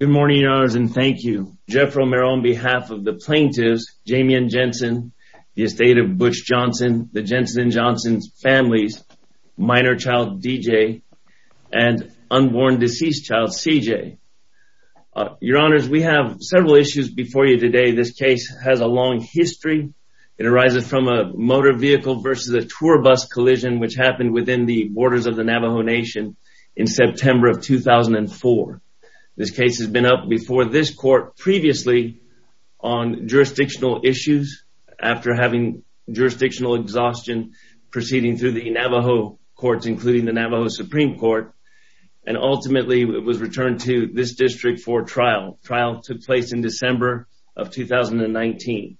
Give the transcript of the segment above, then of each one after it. Good morning, your honors, and thank you. Jeff Romero on behalf of the plaintiffs, Jamien Jensen, the estate of Butch Johnson, the Jensen and Johnson's families, minor child DJ, and unborn deceased child CJ. Your honors, we have several issues before you today. This case has a long history. It arises from a motor vehicle versus a tour bus collision which happened within the borders of the This case has been up before this court previously on jurisdictional issues after having jurisdictional exhaustion proceeding through the Navajo courts, including the Navajo Supreme Court, and ultimately was returned to this district for trial. Trial took place in December of 2019.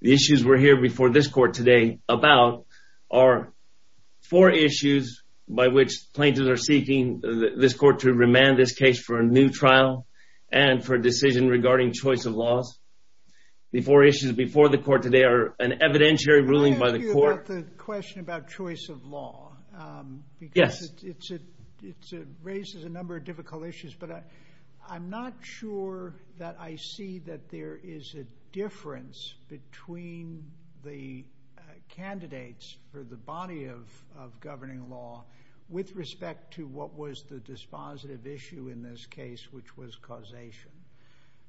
The issues we're here before this court today about are four issues by which plaintiffs are seeking this new trial and for a decision regarding choice of laws. The four issues before the court today are an evidentiary ruling by the court. I have a question about choice of law. Yes. It raises a number of difficult issues, but I'm not sure that I see that there is a difference between the candidates for the body of governing law with respect to what was the dispositive issue in this case, which was causation.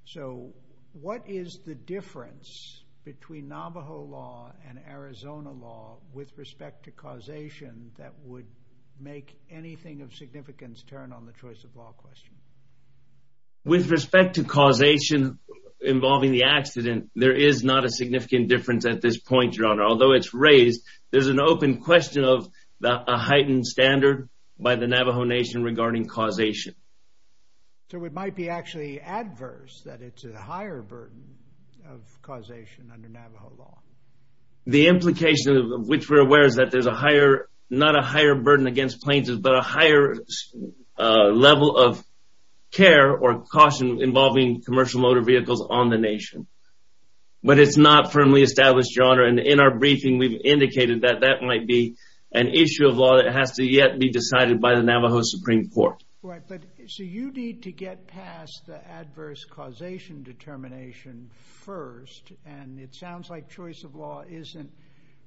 So what is the difference between Navajo law and Arizona law with respect to causation that would make anything of significance turn on the choice of law question? With respect to causation involving the accident, there is not a significant difference at this point, your honor. Although it's raised, there's an open question of a heightened standard by the Navajo Nation regarding causation. So it might be actually adverse that it's a higher burden of causation under Navajo law. The implication of which we're aware is that there's a higher, not a higher burden against plaintiffs, but a higher level of care or caution involving commercial motor vehicles on the nation. But it's not firmly established, your honor. And in our briefing, we've indicated that that might be an issue of law that has to yet be decided by the Navajo Supreme Court. So you need to get past the adverse causation determination first, and it sounds like choice of law isn't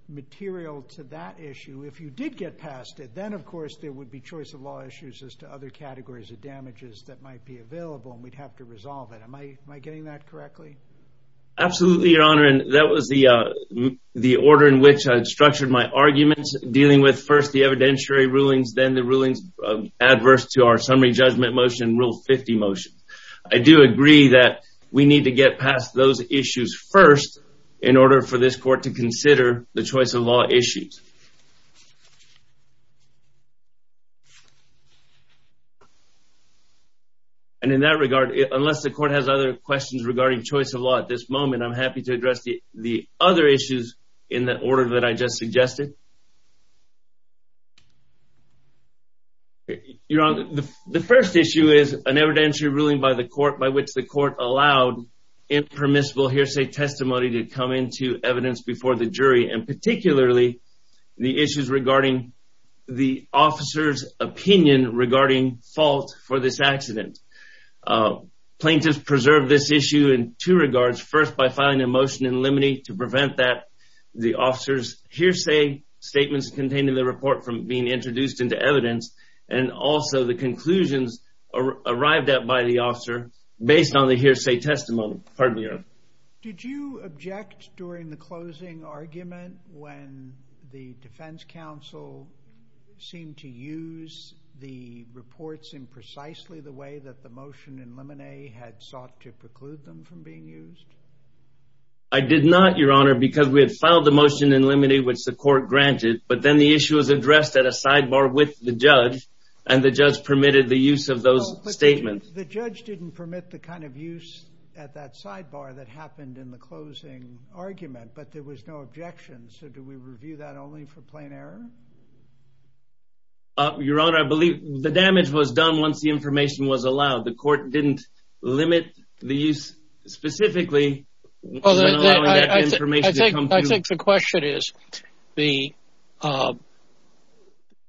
material to that issue. If you did get past it, then, of course, there would be choice of law issues as to other categories of damages that might be available, and we'd have to resolve it. Am I getting that correctly? Absolutely, your honor. And that was the the order in which I structured my arguments dealing with first the evidentiary rulings, then the rulings adverse to our summary judgment motion, rule 50 motion. I do agree that we need to get past those issues first in order for this court to consider the choice of law issues. And in that regard, unless the court has other questions regarding choice of law at this moment, I'm happy to address the other issues in the order that I just suggested. Your honor, the first issue is an evidentiary ruling by the court by which the court allowed impermissible hearsay testimony to come into evidence before the jury, and particularly the issues regarding the officer's opinion regarding fault for this accident. Plaintiffs preserved this issue in two limine to prevent that the officer's hearsay statements containing the report from being introduced into evidence, and also the conclusions arrived at by the officer based on the hearsay testimony. Did you object during the closing argument when the defense counsel seemed to use the reports in precisely the way that the motion in limine had sought to preclude them from being used? I did not, your honor, because we had filed the motion in limine which the court granted, but then the issue was addressed at a sidebar with the judge, and the judge permitted the use of those statements. But the judge didn't permit the kind of use at that sidebar that happened in the closing argument, but there was no objection. So do we review that only for plain error? Your honor, I believe the damage was done once the specifically I think the question is, the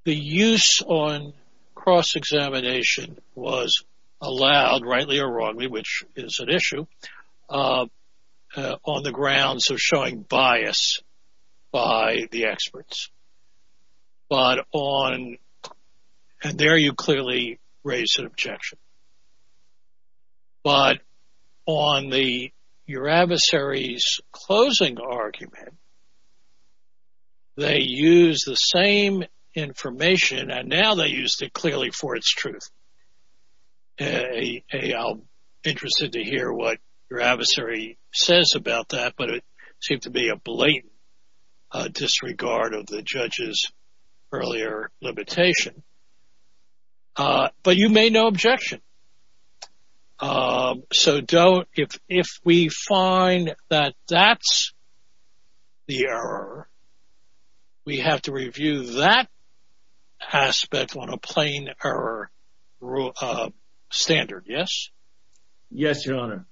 use on cross-examination was allowed, rightly or wrongly, which is an issue, on the grounds of showing bias by the experts. But on, and there you clearly raise an objection, but on your adversary's closing argument, they used the same information, and now they used it clearly for its truth. I'm interested to hear what your adversary says about that, but it seemed to be a blatant disregard of the judge's earlier limitation. But you made no objection. So don't, if we find that that's the error, we have to review that aspect on a plain error standard, yes? Yes, your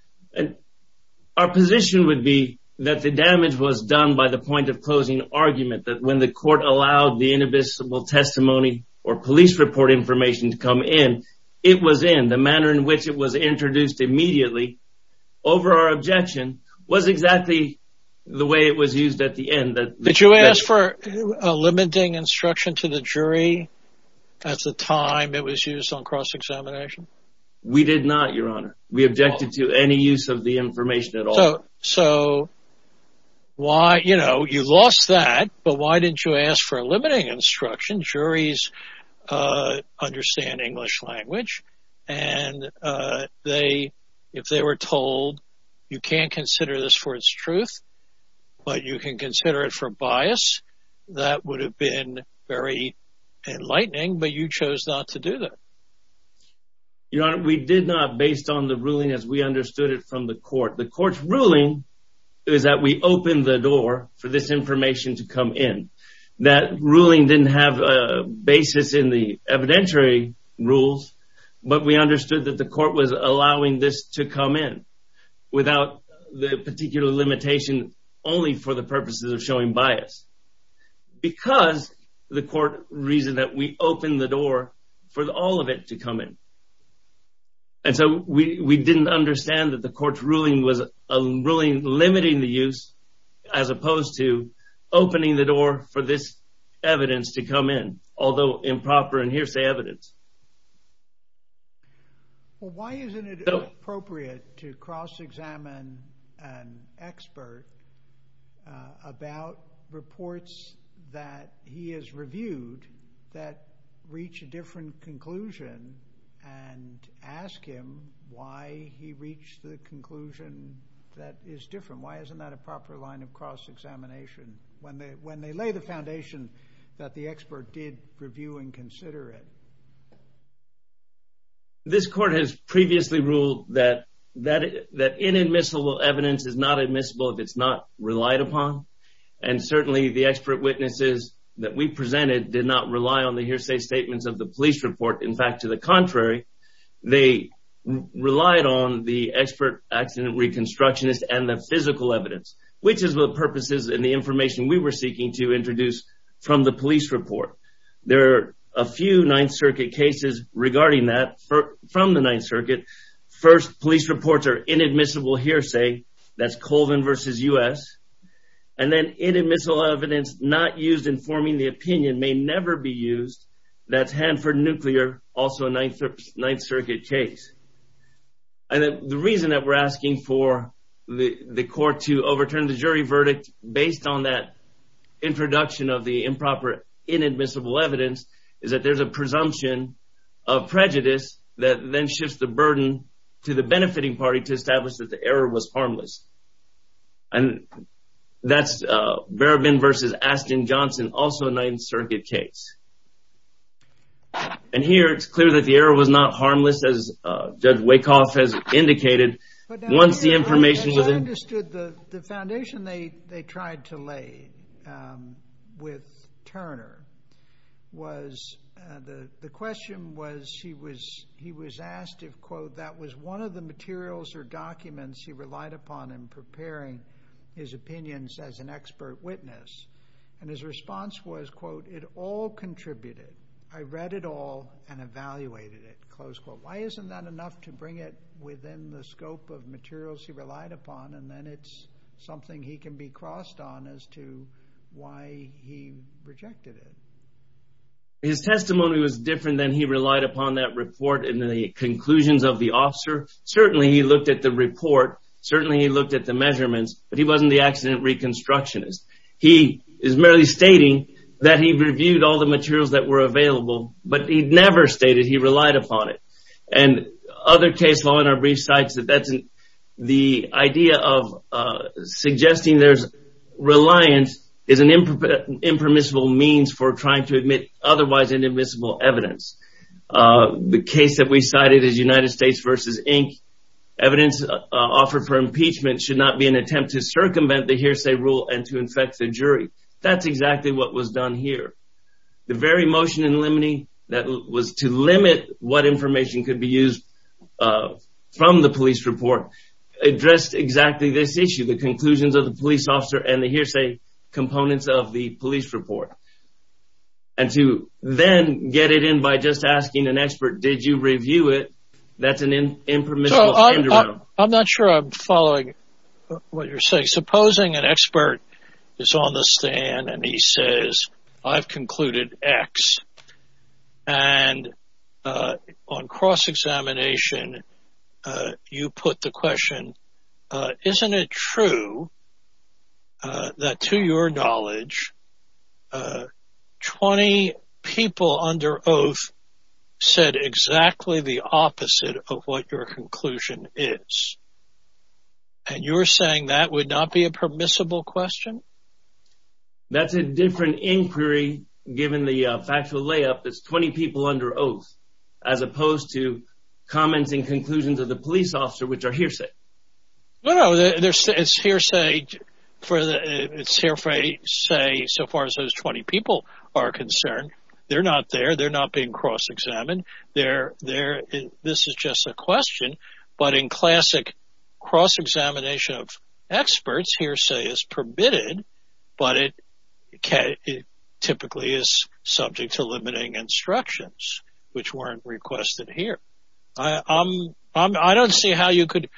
that the damage was done by the point of closing argument, that when the court allowed the invisible testimony or police report information to come in, it was in. The manner in which it was introduced immediately, over our objection, was exactly the way it was used at the end. Did you ask for a limiting instruction to the jury at the time it was used on cross-examination? We did not, your honor. We objected to any use of the information at all. So why, you know, you lost that, but why didn't you ask for a limiting instruction? Juries understand English language, and they, if they were told, you can't consider this for its truth, but you can consider it for bias, that would have been very enlightening, but you chose not to do that. Your honor, we did not, based on the ruling as we understood it from the court's ruling, is that we opened the door for this information to come in. That ruling didn't have a basis in the evidentiary rules, but we understood that the court was allowing this to come in without the particular limitation only for the purposes of showing bias, because the court reasoned that we opened the door for all of it to come in. And so we didn't understand that the ruling limiting the use as opposed to opening the door for this evidence to come in, although improper and hearsay evidence. Well, why isn't it appropriate to cross-examine an expert about reports that he has reviewed that reach a different conclusion and ask him why he reached the conclusion that is different? Why isn't that a proper line of cross-examination when they lay the foundation that the expert did review and consider it? This court has previously ruled that inadmissible evidence is not admissible if it's not relied upon, and certainly the expert witnesses that we presented did not rely on the hearsay statements of the police report. In fact, to the expert accident reconstructionist and the physical evidence, which is what purposes and the information we were seeking to introduce from the police report. There are a few Ninth Circuit cases regarding that from the Ninth Circuit. First, police reports are inadmissible hearsay. That's Colvin versus U.S. And then inadmissible evidence not used in forming the opinion may never be used. That's Hanford Nuclear, also a Ninth Circuit case. And the reason that we're asking for the court to overturn the jury verdict based on that introduction of the improper inadmissible evidence is that there's a presumption of prejudice that then shifts the burden to the benefiting party to establish that the error was harmless. And that's Barabin versus Ashton Johnson, also a Ninth Circuit case. And here it's clear that the error was not harmless, as Judge Wacoff has indicated, once the information was in. I understood the foundation they tried to lay with Turner was the question was he was asked if, quote, that was one of the materials or documents he relied upon in preparing his opinions as an expert witness. And his response was, quote, it all contributed. I read it all and evaluated it, close quote. Why isn't that enough to bring it within the scope of materials he relied upon? And then it's something he can be crossed on as to why he rejected it. His testimony was different than he relied upon that report and the conclusions of the officer. Certainly he looked at the report. Certainly he looked at the measurements. But he wasn't the accident reconstructionist. He is merely stating that he reviewed all the materials that were available, but he never stated he relied upon it. And other case law in our brief sites, the idea of suggesting there's reliance is an impermissible means for trying to admit otherwise inadmissible evidence. The case that we cited is United States versus Inc. Evidence offered for impeachment should not be an attempt to circumvent the hearsay rule and to affect the jury. That's exactly what was done here. The very motion in limine that was to limit what information could be used from the police report addressed exactly this issue, the conclusions of the police officer and the hearsay components of the police report. And to then get it in by just asking an expert, did you review it? That's an impermissible. I'm not sure I'm following what you're saying. Supposing an expert is on the stand and he says, I've concluded X. And on cross-examination, you put the question, isn't it true that to your knowledge, 20 people under oath said exactly the opposite of what your conclusion is. And you're saying that would not be a permissible question? That's a different inquiry given the factual layup. It's 20 people under oath as opposed to comments and conclusions of the police officer, which are hearsay. No, no. It's hearsay so far as those 20 people are concerned. They're not being cross-examined. This is just a question. But in classic cross-examination of experts, hearsay is permitted, but it typically is subject to limiting instructions, which weren't requested here. I don't see how you could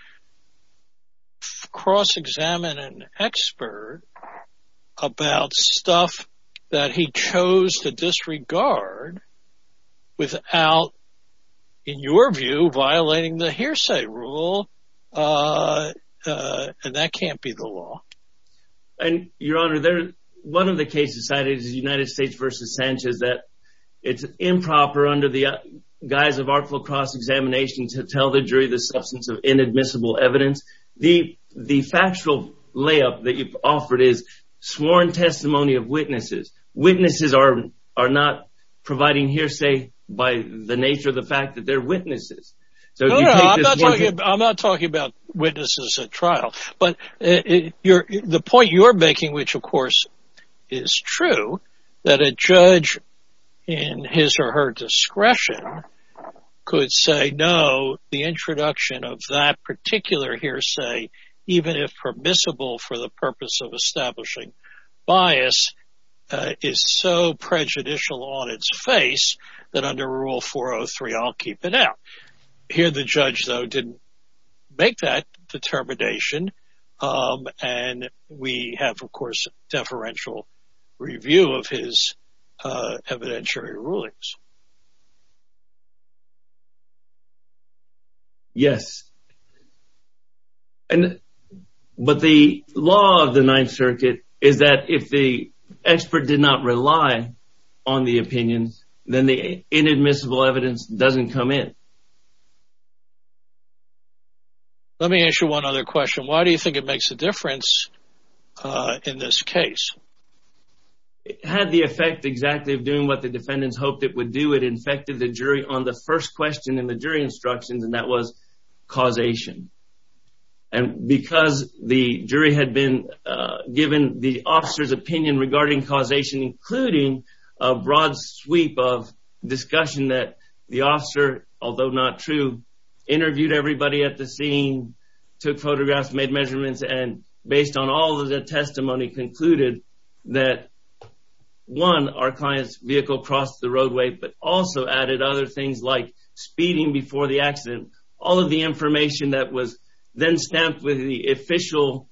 cross-examine an expert about stuff that he chose to disregard without, in your view, violating the hearsay rule. And that can't be the law. And, Your Honor, one of the cases cited is United States v. Sanchez that it's improper under the guise of artful cross-examination to tell the jury the factual layup that you've offered is sworn testimony of witnesses. Witnesses are not providing hearsay by the nature of the fact that they're witnesses. No, no. I'm not talking about witnesses at trial. But the point you're making, which, of course, is true, that a judge in his or her discretion could say, no, the introduction of that particular hearsay, even if permissible for the purpose of establishing bias, is so prejudicial on its face that under Rule 403, I'll keep it out. Here, the judge, though, didn't make that determination. And we have, of course, deferential review of his evidentiary rulings. Yes. But the law of the Ninth Circuit is that if the expert did not rely on the opinions, then the inadmissible evidence doesn't come in. Let me ask you one other question. Why do you think it makes a difference in this case? It had the effect exactly of doing what the defendants hoped it would do. It infected the jury instructions, and that was causation. And because the jury had been given the officer's opinion regarding causation, including a broad sweep of discussion that the officer, although not true, interviewed everybody at the scene, took photographs, made measurements, and based on all of the testimony concluded that, one, our client's vehicle crossed the roadway, but also added other speeding before the accident. All of the information that was then stamped with the official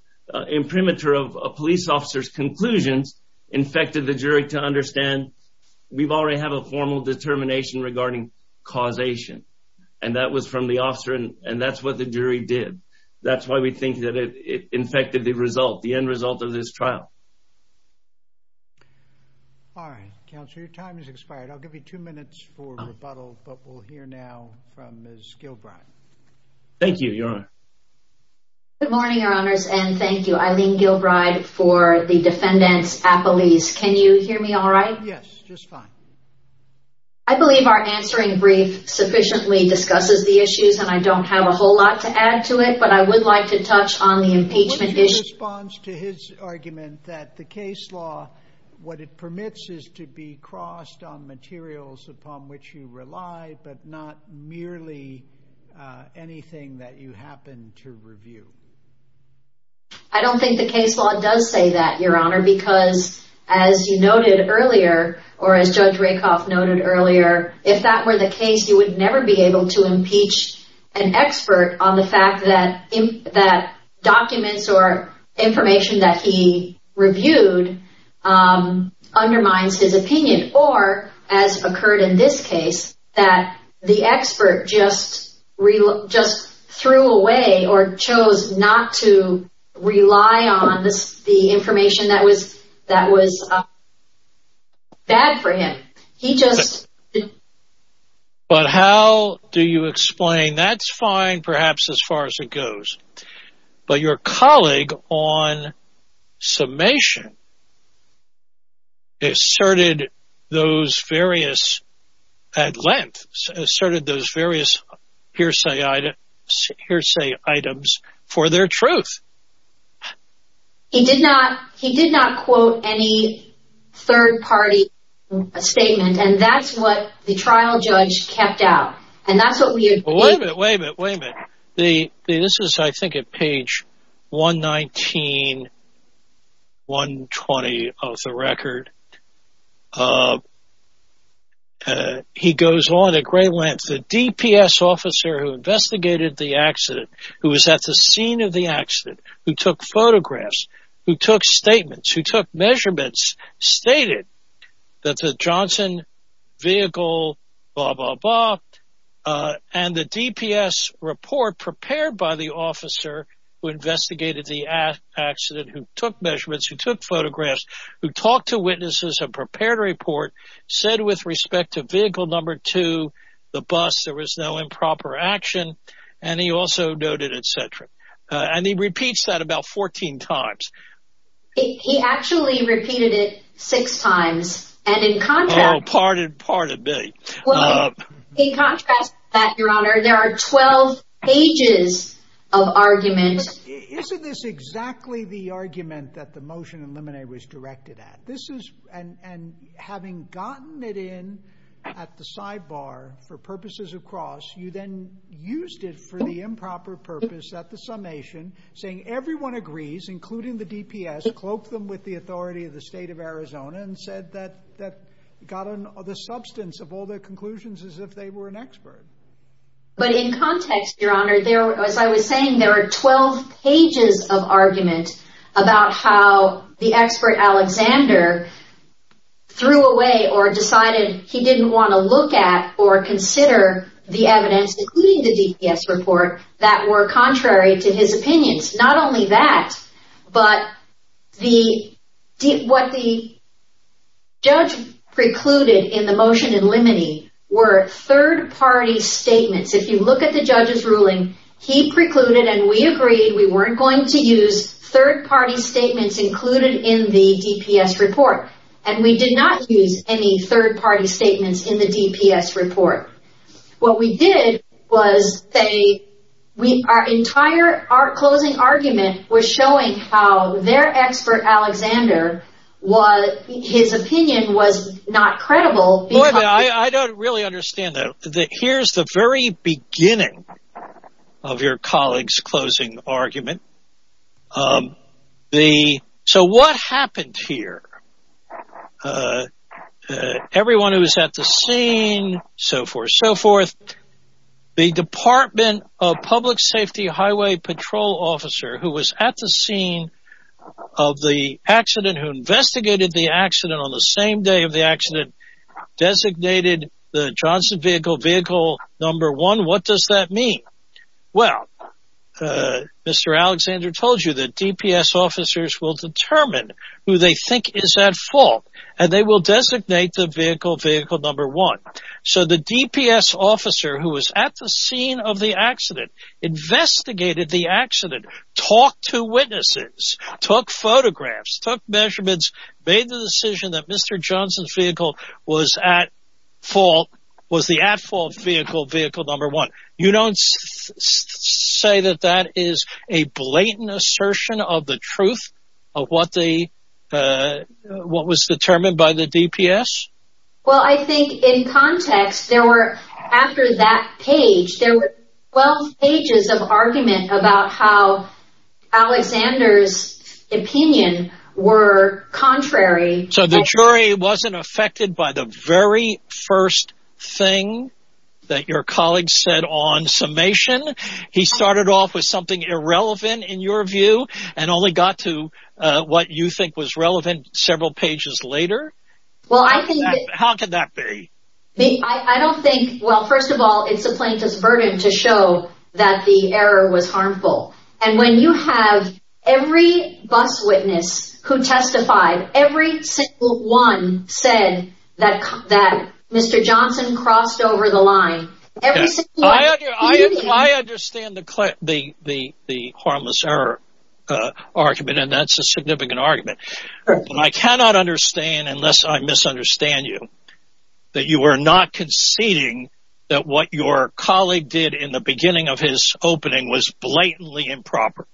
imprimatur of a police officer's conclusions infected the jury to understand we already have a formal determination regarding causation. And that was from the officer, and that's what the jury did. That's why we think that it infected the end result of this trial. All right. Counselor, your time has expired. I'll give you two minutes for rebuttal, but we'll hear now from Ms. Gilbride. Thank you, Your Honor. Good morning, Your Honors, and thank you, Eileen Gilbride, for the defendant's appellees. Can you hear me all right? Yes, just fine. I believe our answering brief sufficiently discusses the issues, and I don't have a whole lot to add to it, but I would like to touch on the impeachment issue. In response to his argument, that the case law, what it permits is to be crossed on materials upon which you rely, but not merely anything that you happen to review. I don't think the case law does say that, Your Honor, because, as you noted earlier, or as Judge Rakoff noted earlier, if that were the case, you would never be able to impeach an expert on the fact that documents or information that he reviewed undermines his opinion, or, as occurred in this case, that the expert just threw away or chose not to rely on the information that was bad for him. He just... But how do you explain? That's fine, perhaps, as far as it goes, but your colleague on summation asserted those various, at length, asserted those various hearsay items for their truth. He did not quote any third party statement, and that's what the trial judge kept out, and that's what we... Wait a minute, wait a minute, wait a minute. This is, I think, at page 119, 120 of the record. He goes on at great length, the DPS officer who investigated the accident, who was at the scene of the accident, who took photographs, who took statements, who took measurements, stated that the Johnson vehicle, blah, blah, blah, and the DPS report prepared by the officer who investigated the accident, who took measurements, who took photographs, who talked to witnesses and prepared a report, said with respect to vehicle number two, the bus, there was no improper action, and he also noted, etc. And he repeats that about 14 times. He actually repeated it six times, and in contrast... Oh, pardon, pardon me. In contrast to that, your honor, there are 12 pages of argument. Isn't this exactly the argument that the motion eliminated was directed at? This is, and having gotten it in at the sidebar for purposes of cross, you then used it for the improper purpose at the DPS, cloaked them with the authority of the state of Arizona, and said that got the substance of all their conclusions as if they were an expert. But in context, your honor, as I was saying, there are 12 pages of argument about how the expert Alexander threw away or decided he didn't want to look at or consider the evidence, including the DPS report, that were contrary to his opinions. Not only that, but what the judge precluded in the motion in limine were third-party statements. If you look at the judge's ruling, he precluded and we agreed we weren't going to use third-party statements included in the DPS report, and we did not use any third-party statements in the DPS report. What we did was our entire closing argument was showing how their expert Alexander, his opinion was not credible. I don't really understand that. Here's the very beginning of your colleague's closing argument. So what happened here? Everyone who was at the scene, so forth, so forth, the department of public safety highway patrol officer who was at the scene of the accident, who investigated the accident on the same day of the accident, designated the Johnson vehicle vehicle number one. What does that mean? Well, Mr. Alexander told you that DPS officers will determine who they think is at fault, and they will designate the vehicle vehicle number one. So the DPS officer who was at the scene of the accident, investigated the accident, talked to witnesses, took photographs, took measurements, made the decision that Mr. Johnson's vehicle was at fault, was the at-fault vehicle number one. You don't say that that is a blatant assertion of the truth of what was determined by the DPS? Well, I think in context there were, after that page, there were 12 pages of argument about how Alexander's opinion were contrary. So the jury wasn't affected by the very first thing that your colleague said on summation? He started off with something irrelevant in your view and only got to what you think was relevant several pages later? Well, I think... How could that be? I don't think, well, first of all, it's the plaintiff's burden to show that the error was over the line. I understand the harmless error argument, and that's a significant argument, but I cannot understand, unless I misunderstand you, that you were not conceding that what your colleague did in the beginning of his opening was blatantly improper?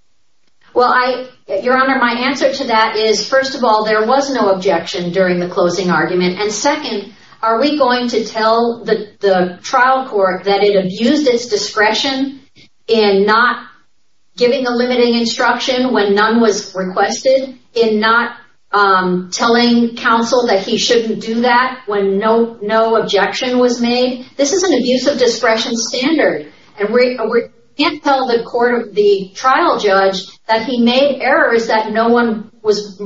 Well, Your Honor, my answer to that is, first of all, there was no objection during the closing argument, and second, are we going to tell the trial court that it abused its discretion in not giving a limiting instruction when none was requested, in not telling counsel that he shouldn't do that when no objection was made? This is an abuse of discretion standard, and we can't tell the court, the trial judge, that he made errors that no one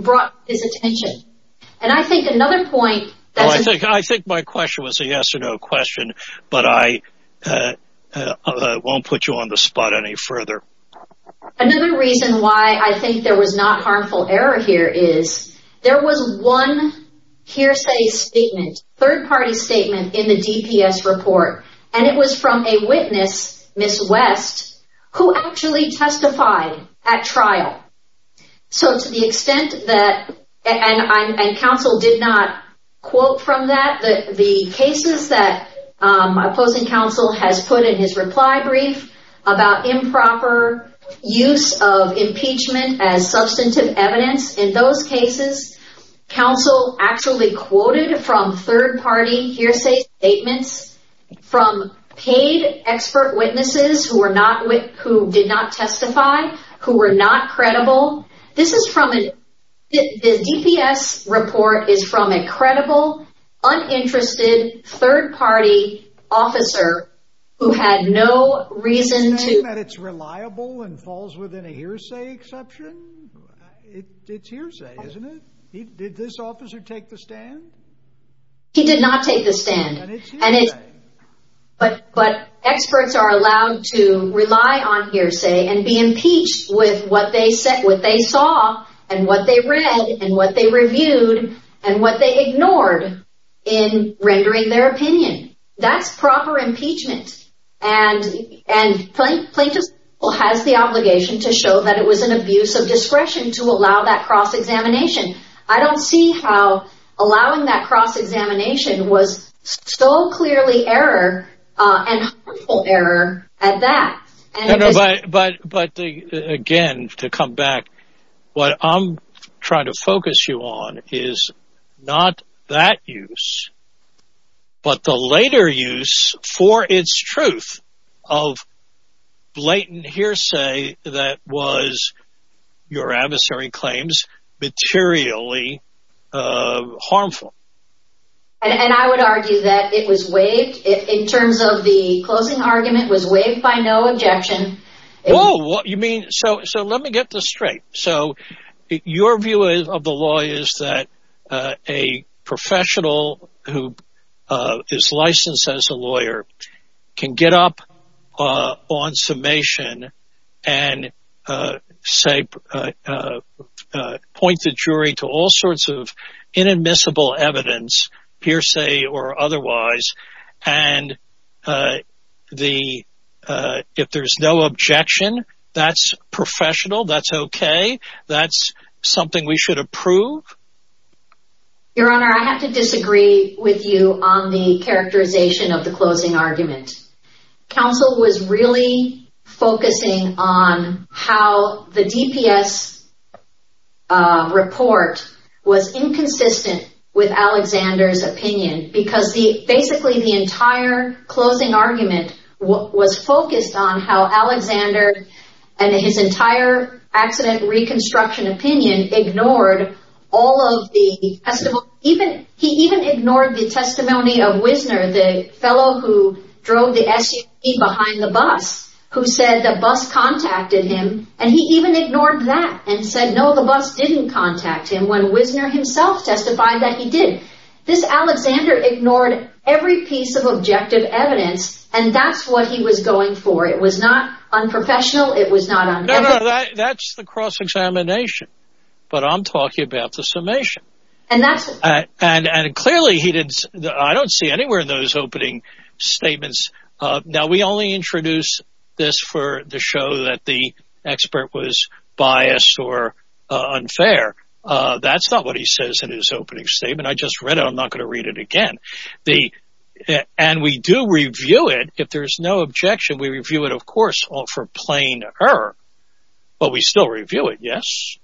brought his attention. And I think another point... I think my question was a yes or no question, but I won't put you on the spot any further. Another reason why I think there was not harmful error here is, there was one hearsay statement, third-party statement, in the DPS report, and it was from a witness, Ms. West, who actually testified at trial. So, to the extent that, and counsel did not quote from that, that the cases that opposing counsel has put in his reply brief about improper use of impeachment as substantive evidence, in those cases, counsel actually quoted from third-party hearsay statements from paid expert witnesses who were not, who did not testify, who were not credible. This is from a, the DPS report is from a credible, uninterested, third-party officer who had no reason to... Did he say that it's reliable and falls within a hearsay exception? It's hearsay, isn't it? Did this officer take the stand? He did not take the stand. And it's hearsay. But experts are allowed to rely on hearsay and be impeached with what they said, what they saw, and what they read, and what they reviewed, and what they ignored in rendering their opinion. That's proper impeachment. And plaintiff has the obligation to show that it was an abuse of discretion to allow that cross-examination. I don't see how allowing that cross-examination was so clearly error and harmful error at that. But again, to come back, what I'm trying to focus you on is not that use, but the later use for its truth of blatant hearsay that was, your adversary claims, materially harmful. And I would argue that it was waived, in terms of the closing argument, was waived by no objection. Oh, what you mean? So let me get this straight. So your view of the law is that a professional who is licensed as a lawyer can get up on summation and point the jury to all sorts of objections? That's professional? That's okay? That's something we should approve? Your Honor, I have to disagree with you on the characterization of the closing argument. Counsel was really focusing on how the DPS report was inconsistent with Alexander's opinion, because basically the entire closing argument was focused on how Alexander and his entire accident reconstruction opinion ignored all of the testimony. He even ignored the testimony of Wisner, the fellow who drove the SUV behind the bus, who said the bus contacted him. And he even ignored that and said, no, the bus didn't contact him, when Wisner himself testified that he did. This Alexander ignored every piece of objective evidence, and that's what he was going for. It was not unprofessional. It was not unethical. No, no, that's the cross-examination. But I'm talking about the summation. And that's... And clearly he did... I don't see anywhere in those opening statements... Now, we only introduce this for the show that the expert was biased or unfair. That's not what he says in his opening statement. I just read it. I'm not going to read it again. And we do review it. If there's no objection, we review it, of course, for plain error. But we still review it, yes?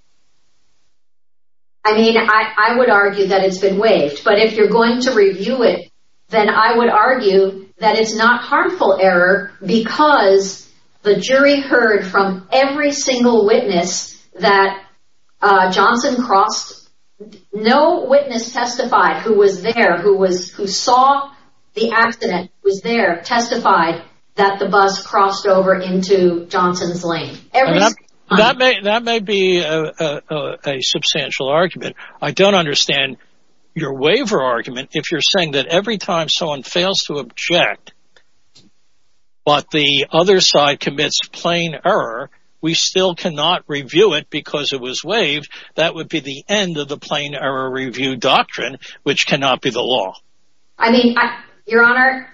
I mean, I would argue that it's been waived. But if you're going to review it, then I would argue that it's not harmful error, because the jury heard from every single witness that Johnson crossed... No witness testified who was there, who saw the accident, was there, testified that the bus crossed over into Johnson's lane. That may be a substantial argument. I don't understand your waiver argument if you're saying that every time someone fails to object, but the other side commits plain error, we still cannot review it because it was waived. That would be the end of the plain error review doctrine, which cannot be the law. I mean, Your Honor,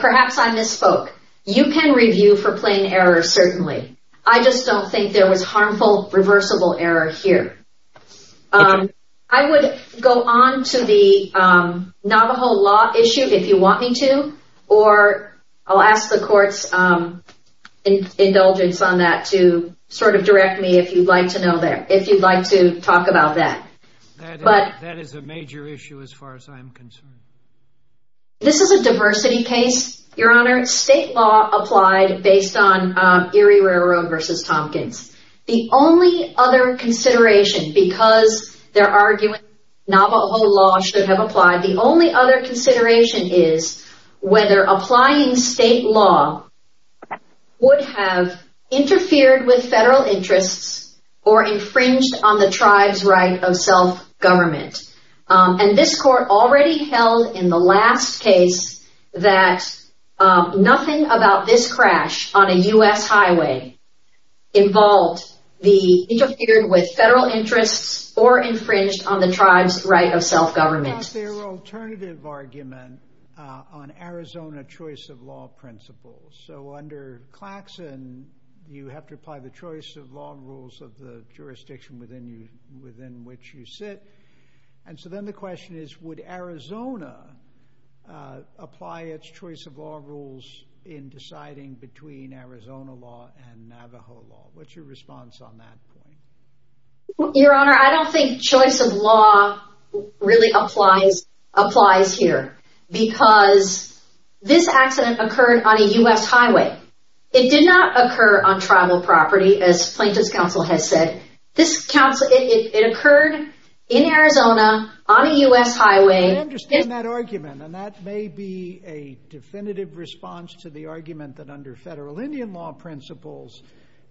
perhaps I misspoke. You can review for plain error, certainly. I just don't think there was harmful, reversible error here. I would go on to the Navajo law issue, if you want me to. Or I'll ask the court's indulgence on that to sort of direct me if you'd like to know there, if you'd like to talk about that. That is a major issue, as far as I'm concerned. This is a diversity case, Your Honor. State law applied based on Erie Railroad versus Tompkins. The only other consideration, because they're arguing Navajo law should have applied, the only other consideration is whether applying state law would have interfered with federal interests or infringed on the tribe's right of self-government. And this court already held in the last case that nothing about this crash on a U.S. highway involved, interfered with federal interests or infringed on the tribe's right of self-government. What about their alternative argument on Arizona choice of law principles? So under Claxon, you have to apply the choice of law rules of the jurisdiction within which you sit. And so then the question is, would Arizona apply its choice of law rules in deciding between Arizona law and Navajo law? What's your response on that point? Your Honor, I don't think choice of law really applies here, because this accident occurred on a U.S. highway. It did not occur on tribal property, as Plaintiff's counsel has said. This council, it occurred in Arizona on a U.S. highway. I understand that argument, and that may be a definitive response to the argument that under federal Indian law principles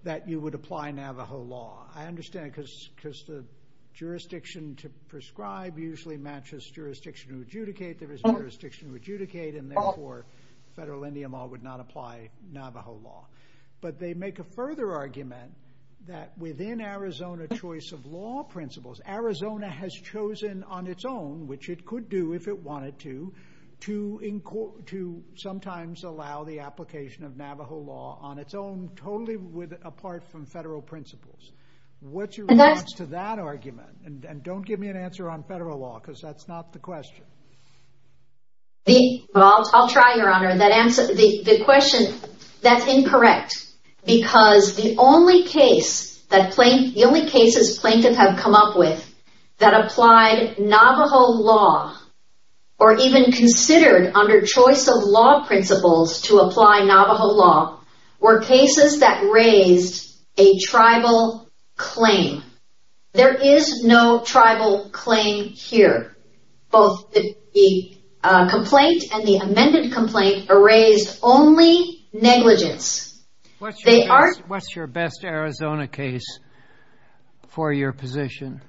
that you would apply Navajo law. I understand because the jurisdiction to prescribe usually matches jurisdiction to adjudicate. There is no jurisdiction to adjudicate, and therefore federal Indian law would not apply Navajo law. But they make a further argument that within Arizona choice of law principles, Arizona has chosen on its own, which it could do if it wanted to, to sometimes allow the application of Navajo law on its own, totally apart from federal principles. What's your response to that argument? And don't give me an answer on federal law, because that's not the question. I'll try, Your Honor. The question, that's incorrect, because the only case, the only cases Plaintiff have come up with that applied Navajo law, or even considered under choice of law principles to apply Navajo law, were cases that raised a tribal claim. There is no tribal claim here. Both the complaint and the amended complaint raised only negligence. What's your best Arizona case for your position?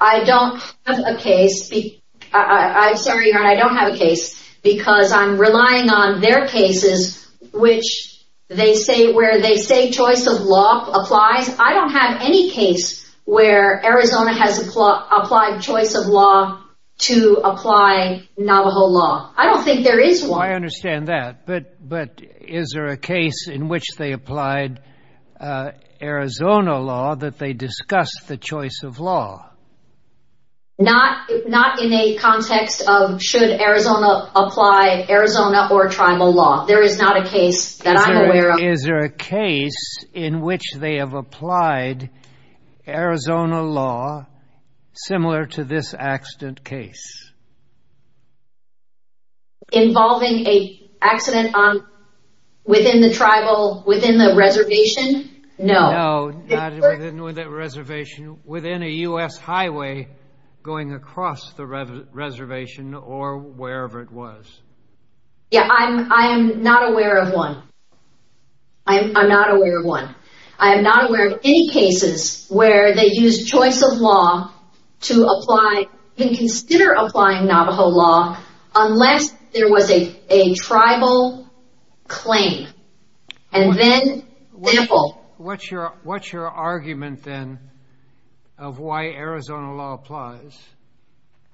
I don't have a case. Sorry, Your Honor, I don't have a case, because I'm relying on their cases, which they say, where they say choice of law applies. I don't have any case where Arizona has applied choice of law to apply Navajo law. I don't think there is one. I understand that, but is there a case in which they applied Arizona law that they discussed the choice of law? Not, not in a context of should Arizona apply Arizona or tribal law. There is not a case that I'm aware of. Is there a case in which they have applied Arizona law similar to this accident case? Involving an accident within the tribal, within the reservation? No. No, not within the reservation, within a U.S. highway going across the reservation or wherever it was. Yeah, I'm not aware of one. I'm not aware of one. I'm not aware of any cases where they used choice of law to apply and consider applying Navajo law unless there was a tribal claim. And then, what's your, what's your argument then of why Arizona law applies?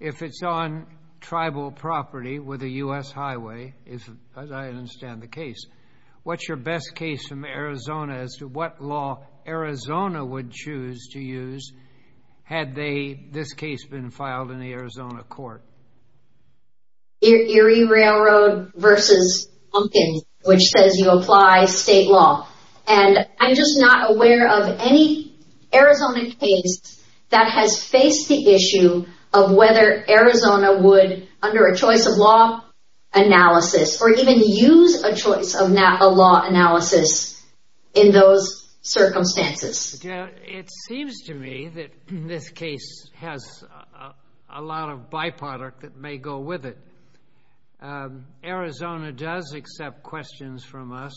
If it's on tribal property with a U.S. highway, as I understand the case, what's your best case from Arizona as to what law Arizona would choose to use had they, this case, been filed in the Arizona court? Erie Railroad versus Pumpkin, which says you apply state law. And I'm just not aware of any Arizona case that has faced the issue of whether Arizona would, under a choice of law analysis, or even use a choice of law analysis in those circumstances. It seems to me that this case has a lot of byproduct that may go with it. Arizona does accept questions from us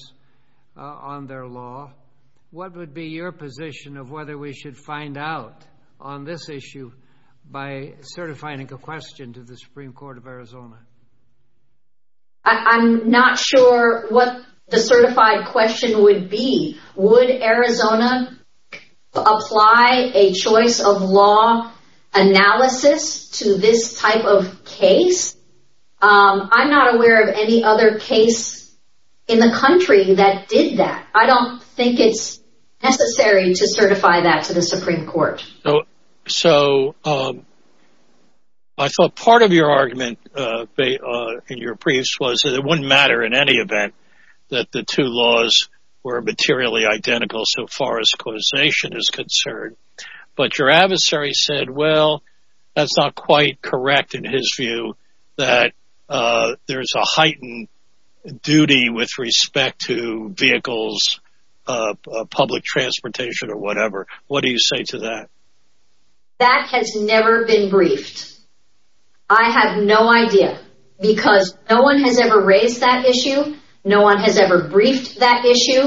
on their law. What would be your position of whether we should find out on this issue by certifying a question to the Supreme Court of Arizona? I'm not sure what the certified question would be. Would Arizona apply a choice of law analysis to this type of case? I'm not aware of any other case in the country that did that. I don't think it's necessary to certify that to the Supreme Court. So I thought part of your argument in your briefs was that it wouldn't matter in any event that the two laws were materially identical so far as causation is concerned. But your adversary said, well, that's not quite correct in his view that there's a whatever. What do you say to that? That has never been briefed. I have no idea because no one has ever raised that issue. No one has ever briefed that issue.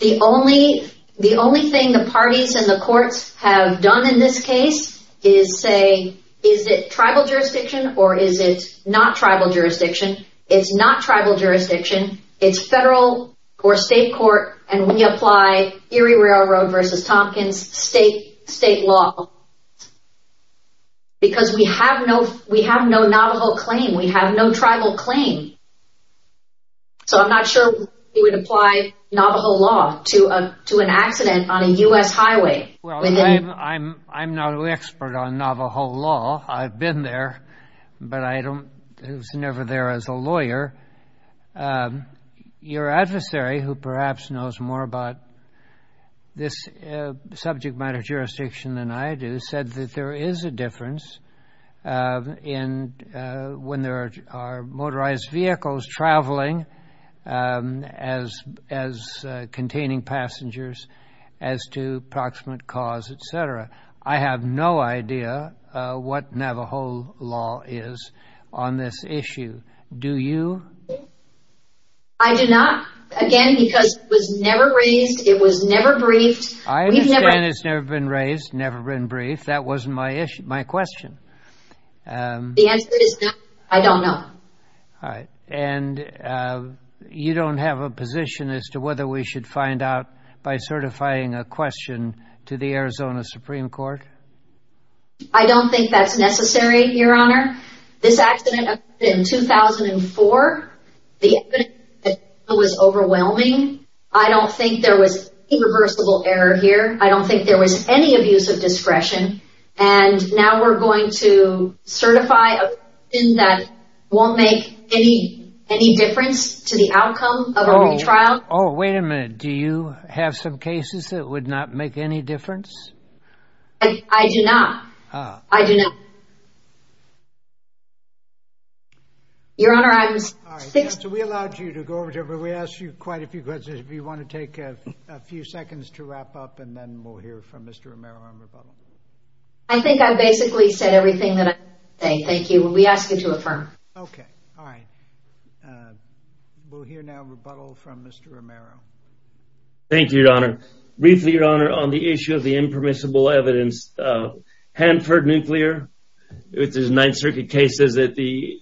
The only thing the parties and the courts have done in this case is say, is it tribal jurisdiction or is it not tribal jurisdiction? It's not tribal jurisdiction. It's federal or state court. And we apply Erie Railroad versus Tompkins state law because we have no Navajo claim. We have no tribal claim. So I'm not sure we would apply Navajo law to an accident on a U.S. highway. I'm not an expert on Navajo law. I've been there, but I was never there as a lawyer. Your adversary, who perhaps knows more about this subject matter jurisdiction than I do, said that there is a difference when there are motorized vehicles traveling as containing passengers as to proximate cause, et cetera. I have no idea what Navajo law is on this issue. Do you? I do not. Again, because it was never raised. It was never briefed. I understand it's never been raised, never been briefed. That wasn't my issue, my question. The answer is no, I don't know. All right. And you don't have a position as to whether we should find out by certifying a question to the Arizona Supreme Court? I don't think that's necessary, Your Honor. This accident occurred in 2004. The evidence was overwhelming. I don't think there was any reversible error here. I don't think we're going to certify a question that won't make any difference to the outcome of a retrial. Oh, wait a minute. Do you have some cases that would not make any difference? I do not. I do not. Your Honor, I was... All right, so we allowed you to go over to everybody. We asked you quite a few questions. If you want to take a few seconds to wrap up, and then we'll hear from Mr. Romero on rebuttal. I think I basically said everything that I had to say. Thank you. We ask you to affirm. Okay. All right. We'll hear now rebuttal from Mr. Romero. Thank you, Your Honor. Briefly, Your Honor, on the issue of the impermissible evidence, Hanford Nuclear, which is a Ninth Circuit case, says that the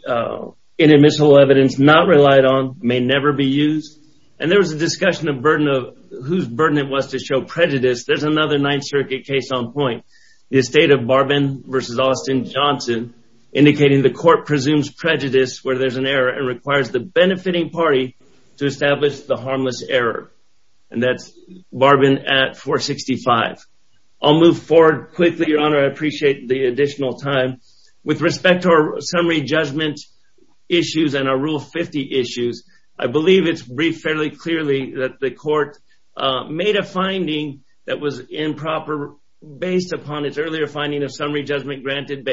inadmissible evidence not relied on may never be used. And there was a discussion of burden of whose burden it was to show prejudice. There's another Ninth Circuit case on point. The estate of Barbin v. Austin Johnson, indicating the court presumes prejudice where there's an error and requires the benefiting party to establish the harmless error. And that's Barbin at 465. I'll move forward quickly, Your Honor. I appreciate the additional time. With respect to our summary judgment issues and our Rule 50 issues, I believe it's fairly clear that the court made a finding that was improper based upon its earlier finding of summary judgment granted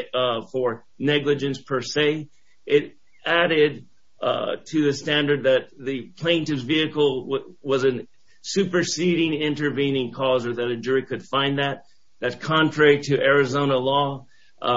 for negligence per se. It added to the standard that the plaintiff's vehicle was a superseding intervening cause or that a jury could find that. That's contrary to Arizona law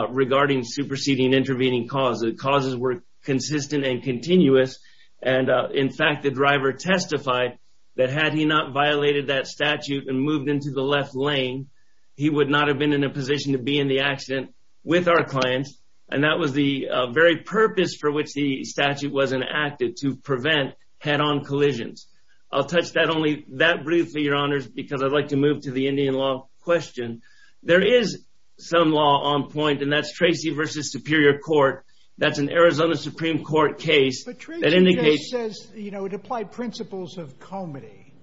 regarding superseding intervening cause. The causes were consistent and continuous. In fact, the driver testified that had he not violated that statute and moved into the left lane, he would not have been in a position to be in the accident with our client. And that was the very purpose for which the statute was enacted, to prevent head-on collisions. I'll touch that only that briefly, Your Honors, because I'd like to move to the Indian law question. There is some law on point, and that's Tracy v. Superior Court. That's an Arizona Supreme Court case. Tracy says it applied principles of comity,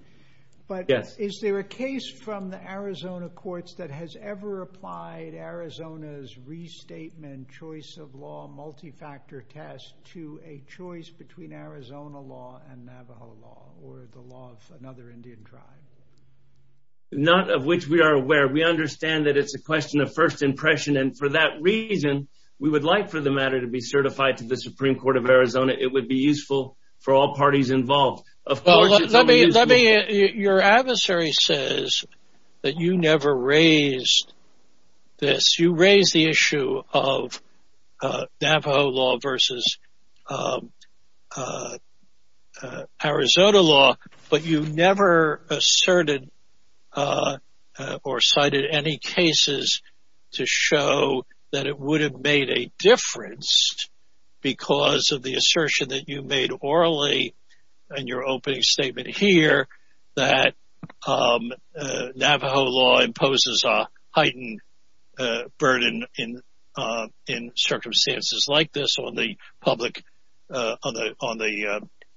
but is there a case from the Arizona courts that has ever applied Arizona's restatement choice of law multi-factor test to a choice between Arizona law and Navajo law or the law of another Indian tribe? Not of which we are aware. We understand that it's a question of first impression, and for that reason, we would like for the matter to be useful for all parties involved. Your adversary says that you never raised this. You raised the issue of Navajo law versus Arizona law, but you never asserted or cited any cases to show that it would have made a difference because of the assertion that you made orally in your opening statement here that Navajo law imposes a heightened burden in circumstances like this on the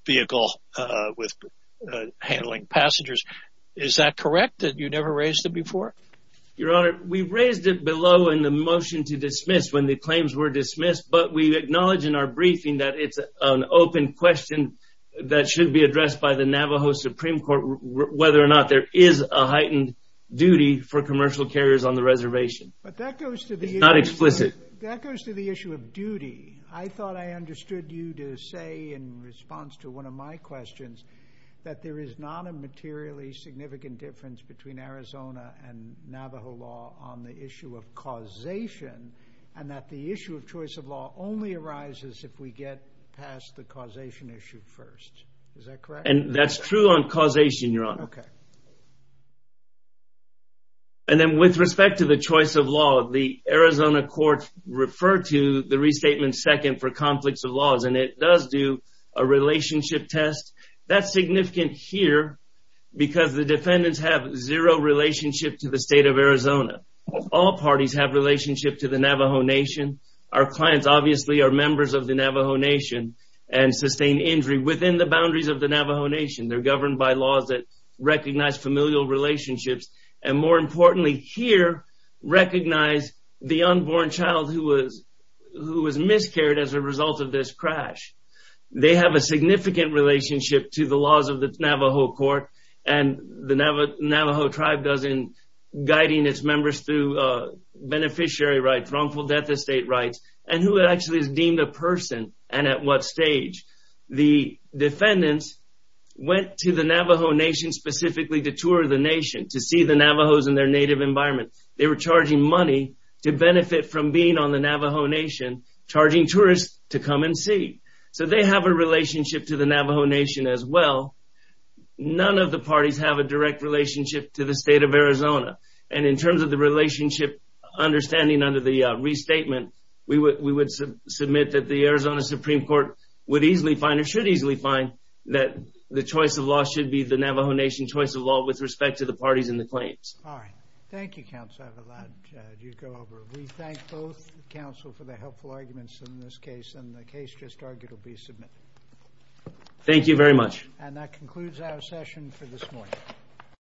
vehicle with handling passengers. Is that correct, that you never raised it before? Your Honor, we raised it below in the motion to dismiss when the claims were dismissed, but we acknowledge in our briefing that it's an open question that should be addressed by the Navajo Supreme Court whether or not there is a heightened duty for commercial carriers on the reservation. But that goes to the issue of duty. I thought I understood you to say in response to one of my questions that there is not a materially significant difference between Arizona and Navajo law on the issue of causation and that the issue of choice of law only arises if we get past the causation issue first. Is that correct? And that's true on causation, Your Honor. Okay. And then with respect to the choice of law, the Arizona court referred to the restatement second for conflicts of laws, and it does do a relationship test. That's significant here because the defendants have zero relationship to the state of Arizona. All parties have relationship to the Navajo Nation. Our clients obviously are members of the Navajo Nation and sustain injury within the boundaries of the Navajo Nation. They're governed by laws that recognize familial relationships and, more importantly here, recognize the unborn child who was miscarried as a result of Navajo court and the Navajo tribe does in guiding its members through beneficiary rights, wrongful death estate rights, and who actually is deemed a person and at what stage. The defendants went to the Navajo Nation specifically to tour the nation, to see the Navajos in their native environment. They were charging money to benefit from being on the Navajo Nation, charging tourists to come and see. So they have a relationship to the Navajo Nation as well. None of the parties have a direct relationship to the state of Arizona. And in terms of the relationship understanding under the restatement, we would submit that the Arizona Supreme Court would easily find or should easily find that the choice of law should be the Navajo Nation choice of law with respect to the parties and the claims. All right. Thank you, counsel. I have a lot to go over. We thank both counsel for the helpful arguments in this case and the case just argued will be submitted. Thank you very much. And that concludes our session for this morning.